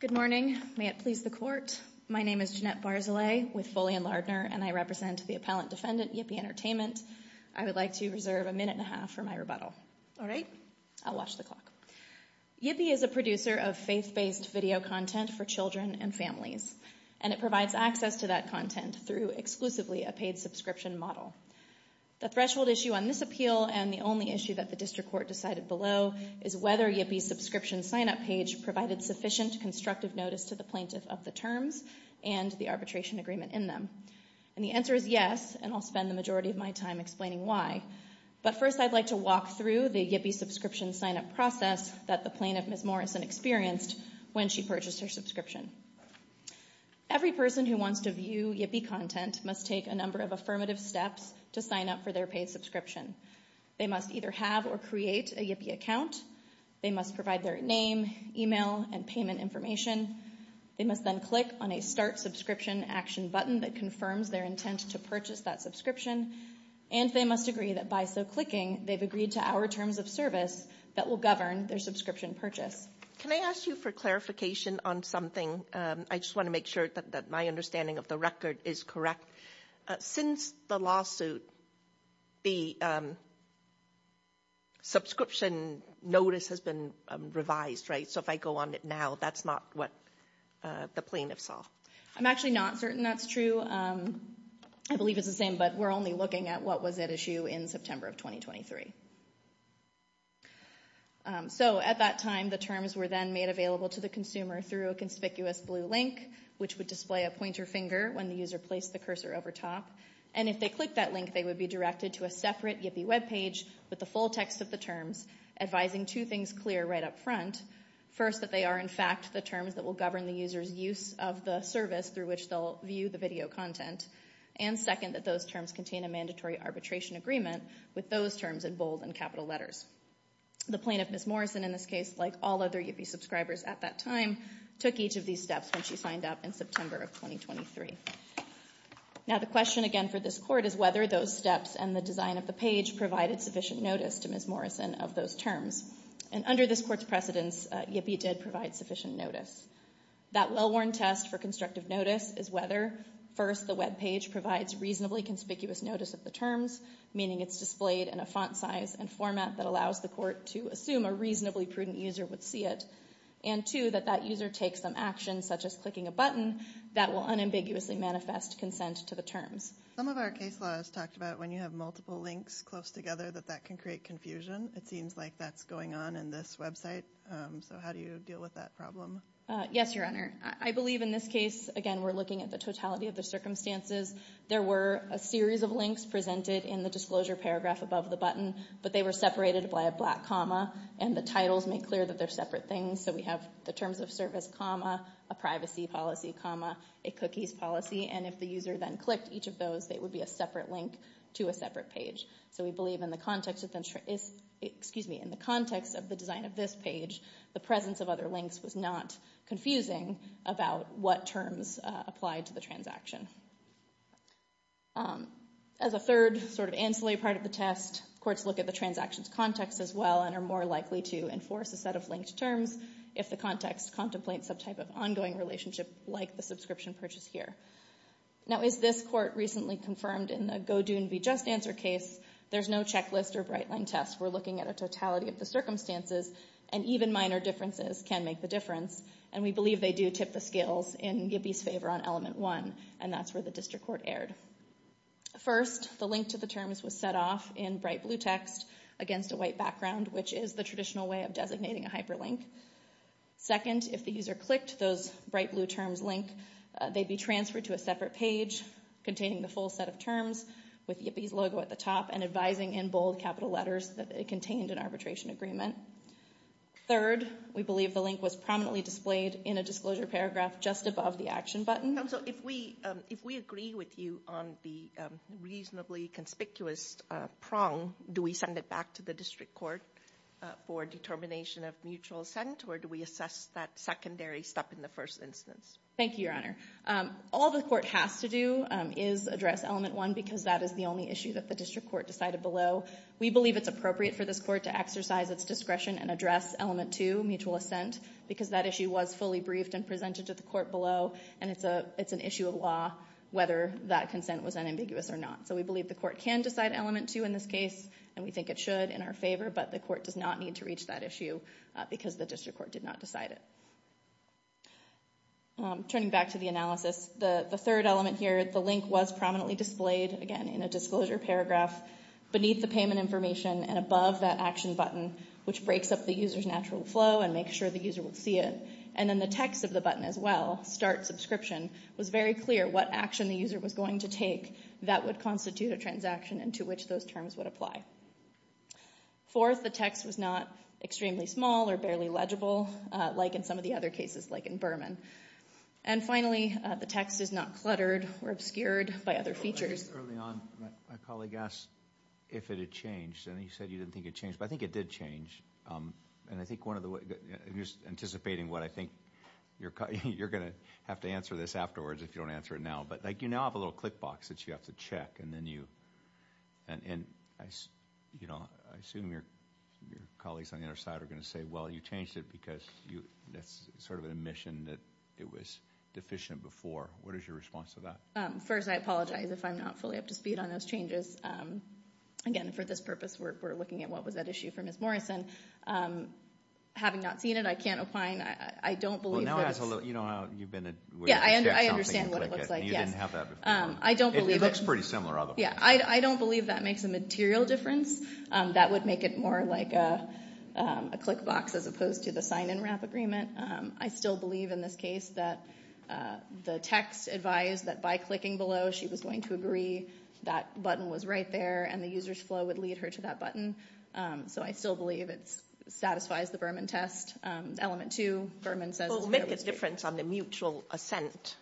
Good morning. May it please the Court. My name is Jeanette Barzilay with Foley & Lardner, and I represent the appellant defendant, Yippee Entertainment. I would like to reserve a minute and a half for my rebuttal. All right. I'll watch the clock. Yippee is a producer of faith-based video content for children and families, and it provides access to that content through exclusively a paid subscription model. The threshold issue on this appeal, and the only issue that the District Court decided below, is whether Yippee's subscription sign-up page provided sufficient constructive notice to the plaintiff of the terms and the arbitration agreement in them. And the answer is yes, and I'll spend the majority of my time explaining why. But first, I'd like to walk through the Yippee subscription sign-up process that the plaintiff, Ms. Morrison, experienced when she purchased her subscription. Every person who wants to view Yippee content must take a number of affirmative steps to sign up for their paid subscription. They must either have or create a Yippee account. They must provide their name, email, and payment information. They must then click on a Start Subscription Action button that confirms their intent to purchase that subscription. And they must agree that by so clicking, they've agreed to our terms of service that will govern their subscription purchase. Can I ask you for clarification on something? I just want to make sure that my understanding of the record is correct. Since the lawsuit, the subscription notice has been revised, right? So if I go on it now, that's not what the plaintiff saw. I'm actually not certain that's true. I believe it's the same, but we're only looking at what was at issue in September of 2023. So at that time, the terms were then made available to the consumer through a conspicuous blue link, which would display a pointer finger when the user placed the cursor over top. And if they clicked that link, they would be directed to a separate Yippee webpage with the full text of the terms, advising two things clear right up front. First, that they are, in fact, the terms that will govern the user's use of the service through which they'll view the video content. And second, that those terms contain a mandatory arbitration agreement with those terms in bold and capital letters. The plaintiff, Ms. Morrison, in this case, like all other Yippee subscribers at that time, took each of these steps when she signed up in September of 2023. Now the question again for this court is whether those steps and the design of the page provided sufficient notice to Ms. Morrison of those terms. And under this court's precedence, Yippee did provide sufficient notice. That well-worn test for constructive notice is whether, first, the webpage provides reasonably conspicuous notice of the terms, meaning it's displayed in a font size and format that allows the court to assume a reasonably prudent user would see it, and two, that that user takes some action, such as clicking a button, that will unambiguously manifest consent to the terms. Some of our case laws talked about when you have multiple links close together that that can create confusion. It seems like that's going on in this website. So how do you deal with that problem? Yes, Your Honor. I believe in this case, again, we're looking at the totality of the circumstances. There were a series of links presented in the disclosure paragraph above the button, but they were separated by a black comma, and the titles make clear that they're separate things. So we have the terms of service comma, a privacy policy comma, a cookies policy, and if the user then clicked each of those, they would be a separate link to a separate page. So we believe in the context of the design of this page, the presence of other links was not confusing about what terms applied to the transaction. As a third sort of ancillary part of the test, courts look at the transaction's context as well and are more likely to enforce a set of linked terms if the context contemplates some type of ongoing relationship like the subscription purchase here. Now, as this court recently confirmed in the GoDoon v. JustAnswer case, there's no checklist or bright line test. We're looking at a totality of the circumstances, and even minor differences can make the difference. And we believe they do tip the scales in Gibby's favor on element one, and that's where the district court erred. First, the link to the terms was set off in bright blue text against a white background, which is the traditional way of designating a hyperlink. Second, if the user clicked those bright blue terms link, they'd be transferred to a separate page containing the full set of terms with Gibby's logo at the top and advising in bold capital letters that it contained an arbitration agreement. Third, we believe the link was prominently displayed in a disclosure paragraph just above the action button. Counsel, if we agree with you on the reasonably conspicuous prong, do we send it back to the district court for determination of mutual assent, or do we assess that secondary step in the first instance? Thank you, Your Honor. All the court has to do is address element one because that is the only issue that the district court decided below. We believe it's appropriate for this court to exercise its discretion and address element two, mutual assent, because that issue was fully briefed and presented to the court below, and it's an issue of law whether that consent was unambiguous or not. So we believe the court can decide element two in this case, and we think it should in our favor, but the court does not need to reach that issue because the district court did not decide it. Turning back to the analysis, the third element here, the link was prominently displayed, again, in a disclosure paragraph beneath the payment information and above that action button, which breaks up the user's natural flow and makes sure the user would see it. And then the text of the button as well, start subscription, was very clear what action the user was going to take that would constitute a transaction and to which those terms would apply. Fourth, the text was not extremely small or barely legible, like in some of the other cases, like in Berman. And finally, the text is not cluttered or obscured by other features. Early on, my colleague asked if it had changed, and he said you didn't think it changed, but I think it did change. And I think just anticipating what I think you're going to have to answer this afterwards if you don't answer it now, but you now have a little click box that you have to check, and I assume your colleagues on the other side are going to say, well, you changed it because that's sort of an admission that it was deficient before. What is your response to that? First, I apologize if I'm not fully up to speed on those changes. Again, for this purpose, we're looking at what was at issue for Ms. Morrison. Having not seen it, I can't opine. I don't believe that it's – Well, now I have a little – you know how you've been a – Yeah, I understand what it looks like, yes. And you didn't have that before. I don't believe it – It looks pretty similar, otherwise. Yeah, I don't believe that makes a material difference. That would make it more like a click box as opposed to the sign-in wrap agreement. I still believe in this case that the text advised that by clicking below, she was going to agree. That button was right there, and the user's flow would lead her to that button. So I still believe it satisfies the Berman test. Element two, Berman says – Well, it would make a difference on the mutual assent,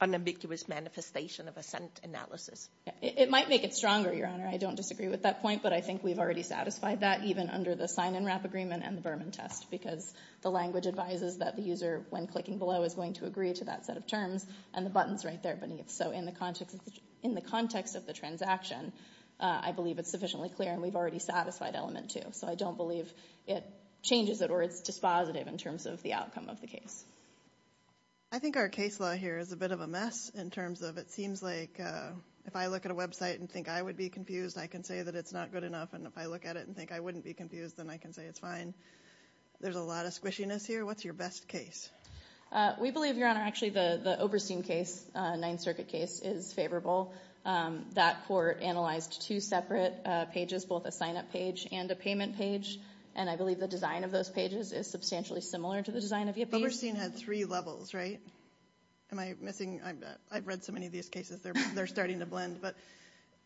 unambiguous manifestation of assent analysis. It might make it stronger, Your Honor. I don't disagree with that point, but I think we've already satisfied that, even under the sign-in wrap agreement and the Berman test, because the language advises that the user, when clicking below, is going to agree to that set of terms, and the button's right there beneath. So in the context of the transaction, I believe it's sufficiently clear, and we've already satisfied element two. So I don't believe it changes it or it's dispositive in terms of the outcome of the case. I think our case law here is a bit of a mess in terms of it seems like if I look at a website and think I would be confused, I can say that it's not good enough, and if I look at it and think I wouldn't be confused, then I can say it's fine. There's a lot of squishiness here. What's your best case? We believe, Your Honor, actually the Oberstein case, Ninth Circuit case, is favorable. That court analyzed two separate pages, both a sign-up page and a payment page, and I believe the design of those pages is substantially similar to the design of Yippee. Oberstein had three levels, right? Am I missing – I've read so many of these cases, they're starting to blend. But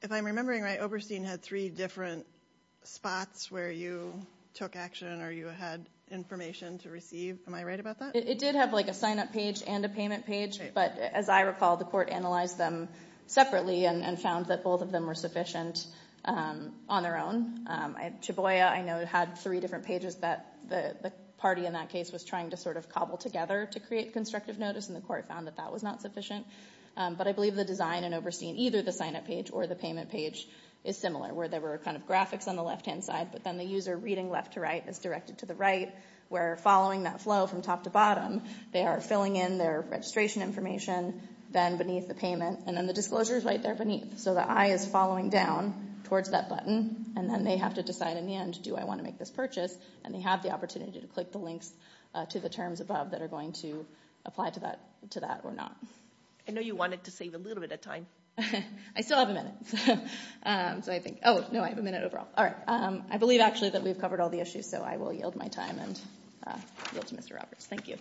if I'm remembering right, Oberstein had three different spots where you took action or you had information to receive. Am I right about that? It did have, like, a sign-up page and a payment page. Right. But as I recall, the court analyzed them separately and found that both of them were sufficient on their own. Chaboya, I know, had three different pages that the party in that case was trying to sort of cobble together to create constructive notice, and the court found that that was not sufficient. But I believe the design in Oberstein, either the sign-up page or the payment page, is similar, where there were kind of graphics on the left-hand side, but then the user reading left to right is directed to the right, where following that flow from top to bottom, they are filling in their registration information, then beneath the payment, and then the disclosure is right there beneath. So the eye is following down towards that button, and then they have to decide in the end, do I want to make this purchase, and they have the opportunity to click the links to the terms above that are going to apply to that or not. I know you wanted to save a little bit of time. I still have a minute. Oh, no, I have a minute overall. All right. I believe, actually, that we've covered all the issues, so I will yield my time and yield to Mr. Roberts. Thank you.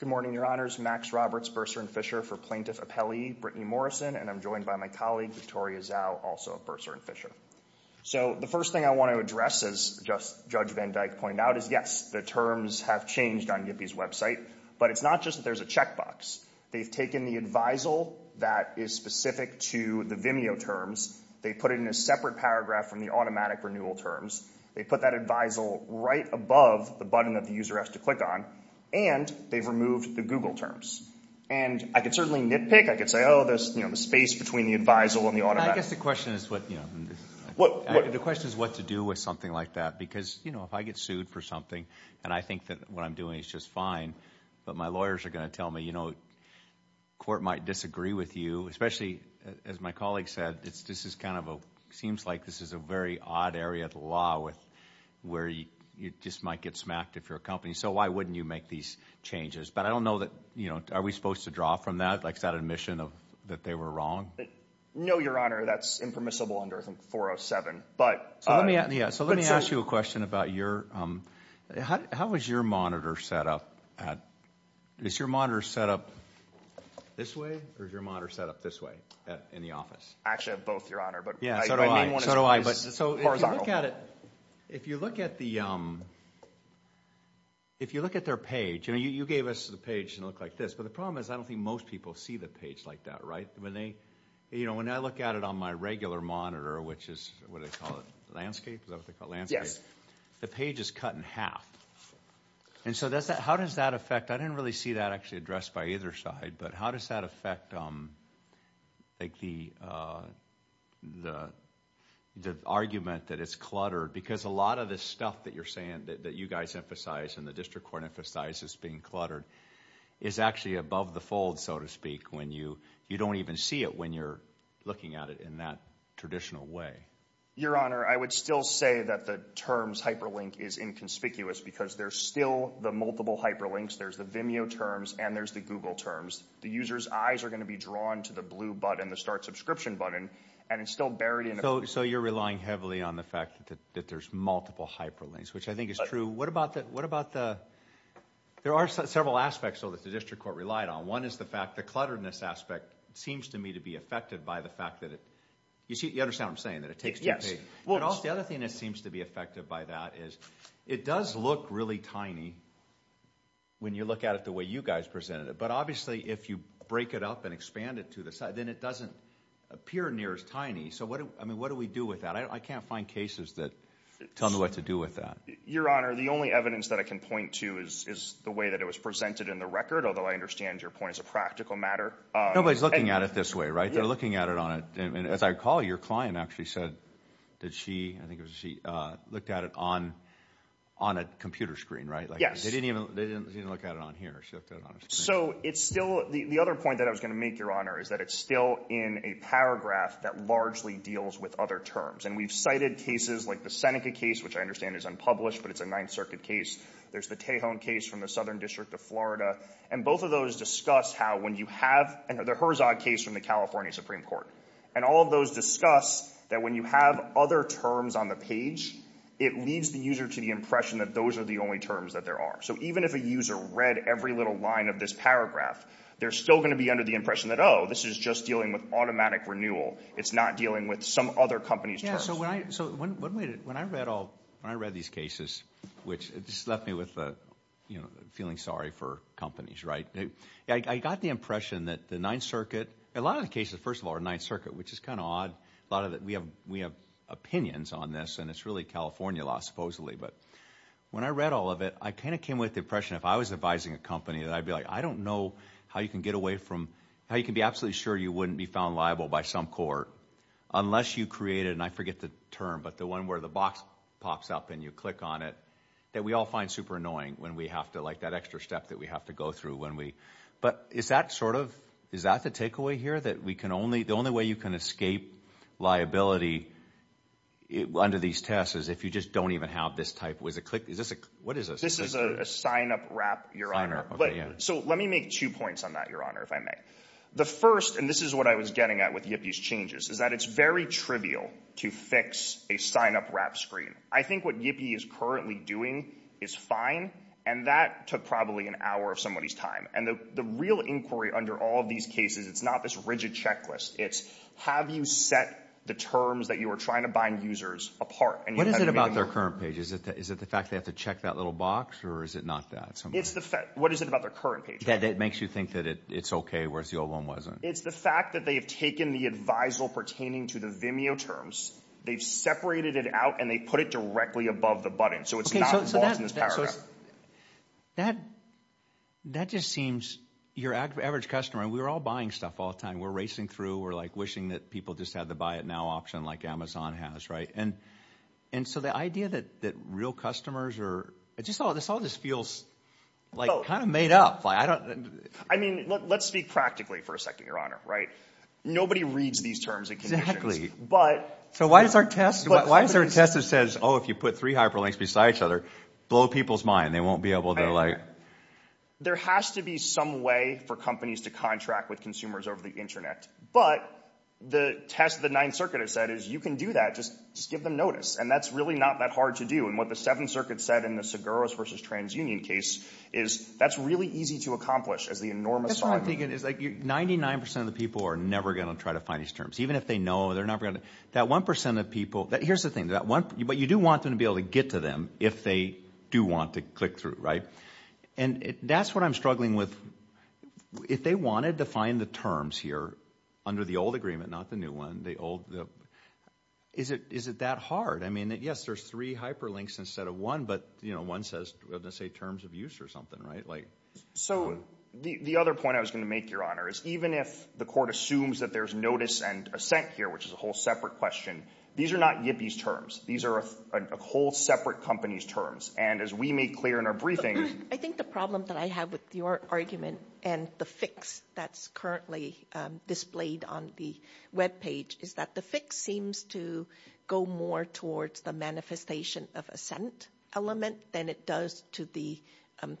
Good morning, Your Honors. My name is Max Roberts, bursar in Fisher for Plaintiff Appellee, Brittany Morrison, and I'm joined by my colleague, Victoria Zhao, also a bursar in Fisher. So the first thing I want to address, as Judge Van Dyke pointed out, is, yes, the terms have changed on YIPI's website, but it's not just that there's a checkbox. They've taken the advisal that is specific to the Vimeo terms. They put it in a separate paragraph from the automatic renewal terms. They put that advisal right above the button that the user has to click on, and they've removed the Google terms. And I could certainly nitpick. I could say, oh, the space between the advisal and the automatic. I guess the question is what to do with something like that because, you know, if I get sued for something and I think that what I'm doing is just fine, but my lawyers are going to tell me, you know, court might disagree with you, especially, as my colleague said, this is kind of a seems like this is a very odd area of the law where you just might get smacked if you're a company. So why wouldn't you make these changes? But I don't know that, you know, are we supposed to draw from that? Like is that admission that they were wrong? No, Your Honor. That's impermissible under 407. So let me ask you a question about your – how is your monitor set up? Is your monitor set up this way or is your monitor set up this way in the office? Actually, both, Your Honor. So do I. So do I. So if you look at it, if you look at the – if you look at their page, and you gave us the page and it looked like this, but the problem is I don't think most people see the page like that, right? When they – you know, when I look at it on my regular monitor, which is what do they call it, landscape? Is that what they call it, landscape? Yes. The page is cut in half. And so how does that affect – I didn't really see that actually addressed by either side, but how does that affect like the argument that it's cluttered? Because a lot of this stuff that you're saying that you guys emphasize and the district court emphasizes being cluttered is actually above the fold, so to speak, when you – you don't even see it when you're looking at it in that traditional way. Your Honor, I would still say that the terms hyperlink is inconspicuous because there's still the multiple hyperlinks. There's the Vimeo terms and there's the Google terms. The user's eyes are going to be drawn to the blue button, the start subscription button, and it's still buried in the – So you're relying heavily on the fact that there's multiple hyperlinks, which I think is true. What about the – there are several aspects, though, that the district court relied on. One is the fact the clutteredness aspect seems to me to be affected by the fact that it – you understand what I'm saying, that it takes two pages. The other thing that seems to be affected by that is it does look really tiny when you look at it the way you guys presented it, but obviously if you break it up and expand it to the side, then it doesn't appear near as tiny. So what do we do with that? I can't find cases that tell me what to do with that. Your Honor, the only evidence that I can point to is the way that it was presented in the record, although I understand your point is a practical matter. Nobody's looking at it this way, right? They're looking at it on a – I mean, as I recall, your client actually said that she – I think it was she looked at it on a computer screen, right? Yes. They didn't look at it on here. She looked at it on a screen. So it's still – the other point that I was going to make, Your Honor, is that it's still in a paragraph that largely deals with other terms, and we've cited cases like the Seneca case, which I understand is unpublished, but it's a Ninth Circuit case. There's the Tejon case from the Southern District of Florida, and both of those discuss how when you have – and the Herzog case from the California Supreme Court. And all of those discuss that when you have other terms on the page, it leads the user to the impression that those are the only terms that there are. So even if a user read every little line of this paragraph, they're still going to be under the impression that, oh, this is just dealing with automatic renewal. It's not dealing with some other company's terms. Yeah, so when I read all – when I read these cases, which just left me with feeling sorry for companies, right? I got the impression that the Ninth Circuit – a lot of the cases, first of all, are Ninth Circuit, which is kind of odd. A lot of – we have opinions on this, and it's really California law, supposedly. But when I read all of it, I kind of came with the impression if I was advising a company, that I'd be like, I don't know how you can get away from – how you can be absolutely sure you wouldn't be found liable by some court unless you created – and I forget the term, but the one where the box pops up and you click on it that we all find super annoying when we have to – that extra step that we have to go through when we – but is that sort of – is that the takeaway here, that we can only – the only way you can escape liability under these tests is if you just don't even have this type – is this a – what is this? This is a sign-up wrap, Your Honor. Okay, yeah. So let me make two points on that, Your Honor, if I may. The first – and this is what I was getting at with YIPI's changes – is that it's very trivial to fix a sign-up wrap screen. I think what YIPI is currently doing is fine, and that took probably an hour of somebody's time. And the real inquiry under all of these cases, it's not this rigid checklist. It's have you set the terms that you are trying to bind users apart? What is it about their current page? Is it the fact they have to check that little box, or is it not that? It's the fact – what is it about their current page? That it makes you think that it's okay, whereas the old one wasn't. It's the fact that they have taken the advisal pertaining to the Vimeo terms, they've separated it out, and they put it directly above the button, so it's not involved in this paragraph. That just seems – your average customer – and we're all buying stuff all the time. We're racing through. We're wishing that people just had the buy it now option like Amazon has, right? And so the idea that real customers are – this all just feels kind of made up. I mean, let's speak practically for a second, Your Honor, right? Nobody reads these terms and conditions. So why is there a test that says, oh, if you put three hyperlinks beside each other, blow people's mind, they won't be able to like – There has to be some way for companies to contract with consumers over the internet. But the test the Ninth Circuit has said is you can do that. Just give them notice, and that's really not that hard to do. And what the Seventh Circuit said in the Seguros v. TransUnion case is that's really easy to accomplish as the enormous – That's what I'm thinking. It's like 99% of the people are never going to try to find these terms. Even if they know, they're not going to – That 1% of people – here's the thing. But you do want them to be able to get to them if they do want to click through, right? And that's what I'm struggling with. If they wanted to find the terms here under the old agreement, not the new one, the old – is it that hard? I mean, yes, there's three hyperlinks instead of one, but one says, let's say, terms of use or something, right? So the other point I was going to make, Your Honor, is even if the court assumes that there's notice and assent here, which is a whole separate question, these are not YIPI's terms. These are a whole separate company's terms. And as we made clear in our briefing – I think the problem that I have with your argument and the fix that's currently displayed on the webpage is that the fix seems to go more towards the manifestation of assent element than it does to the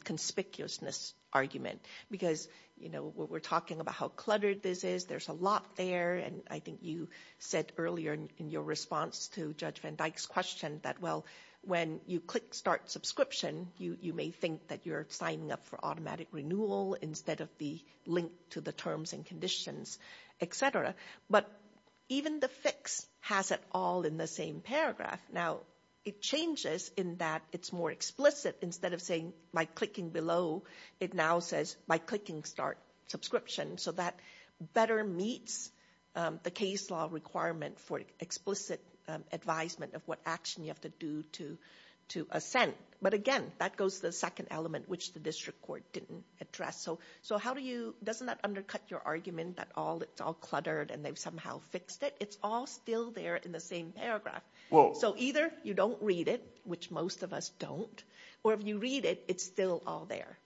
conspicuousness argument because, you know, we're talking about how cluttered this is. There's a lot there. And I think you said earlier in your response to Judge Van Dyke's question that, well, when you click start subscription, you may think that you're signing up for automatic renewal instead of the link to the terms and conditions, et cetera. But even the fix has it all in the same paragraph. Now, it changes in that it's more explicit. Instead of saying by clicking below, it now says by clicking start subscription. So that better meets the case law requirement for explicit advisement of what action you have to do to assent. But, again, that goes to the second element, which the district court didn't address. So how do you – doesn't that undercut your argument that it's all cluttered and they've somehow fixed it? It's all still there in the same paragraph. So either you don't read it, which most of us don't, or if you read it, it's still all there.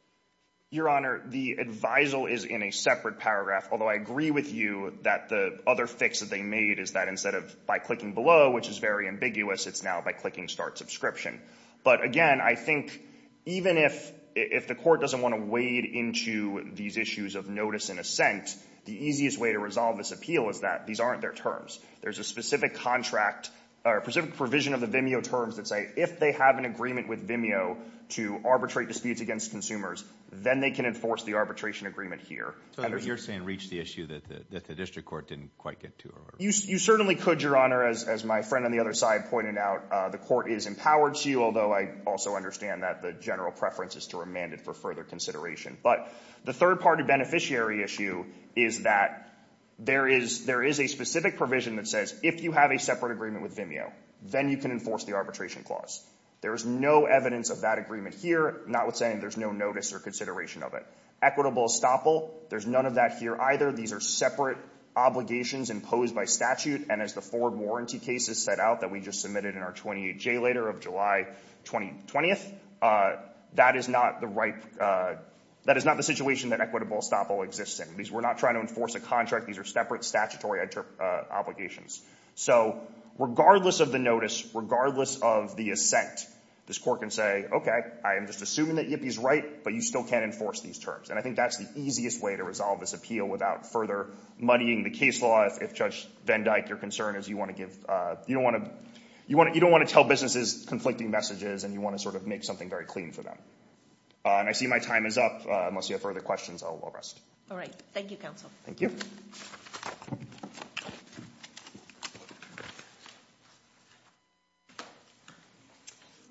Your Honor, the advisal is in a separate paragraph, although I agree with you that the other fix that they made is that instead of by clicking below, which is very ambiguous, it's now by clicking start subscription. But, again, I think even if the court doesn't want to wade into these issues of notice and assent, the easiest way to resolve this appeal is that these aren't their terms. There's a specific contract or specific provision of the Vimeo terms that say if they have an agreement with Vimeo to arbitrate disputes against consumers, then they can enforce the arbitration agreement here. So you're saying reach the issue that the district court didn't quite get to? You certainly could, Your Honor, as my friend on the other side pointed out. The court is empowered to, although I also understand that the general preference is to remand it for further consideration. But the third-party beneficiary issue is that there is a specific provision that says if you have a separate agreement with Vimeo, then you can enforce the arbitration clause. There is no evidence of that agreement here, notwithstanding there's no notice or consideration of it. Equitable estoppel, there's none of that here either. These are separate obligations imposed by statute, and as the forward warranty cases set out that we just submitted in our 28-J later of July 2020, that is not the situation that equitable estoppel exists in. We're not trying to enforce a contract. These are separate statutory obligations. So regardless of the notice, regardless of the assent, this court can say, okay, I am just assuming that Yippie's right, but you still can't enforce these terms. And I think that's the easiest way to resolve this appeal without further moneying the case law if, Judge Van Dyke, your concern is you want to give... You don't want to tell businesses conflicting messages and you want to sort of make something very clean for them. And I see my time is up. Unless you have further questions, I'll rest. All right. Thank you, Counsel. Thank you.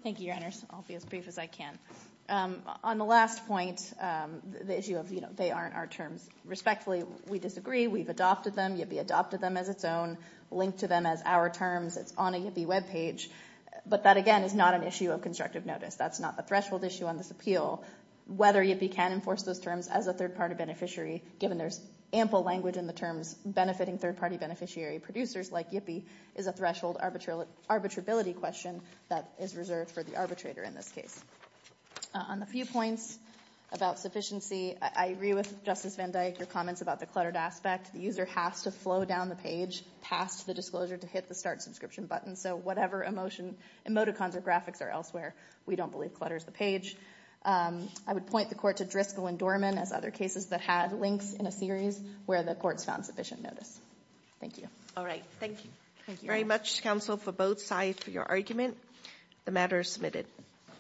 Thank you, Your Honors. I'll be as brief as I can. On the last point, the issue of, you know, they aren't our terms. Respectfully, we disagree. We've adopted them. Yippie adopted them as its own, linked to them as our terms. It's on a Yippie webpage. But that, again, is not an issue of constructive notice. That's not the threshold issue on this appeal. Whether Yippie can enforce those terms as a third-party beneficiary, given there's ample language in the terms benefiting third-party beneficiary producers like Yippie, is a threshold arbitrability question that is reserved for the arbitrator in this case. On the few points about sufficiency, I agree with Justice Van Dyke, your comments about the cluttered aspect. The user has to flow down the page past the disclosure to hit the Start Subscription button. So whatever emoticons or graphics are elsewhere, we don't believe clutters the page. I would point the court to Driscoll and Dorman as other cases that had links in a series where the courts found sufficient notice. Thank you. All right. Thank you. Thank you very much, counsel, for both sides for your argument. The matter is submitted.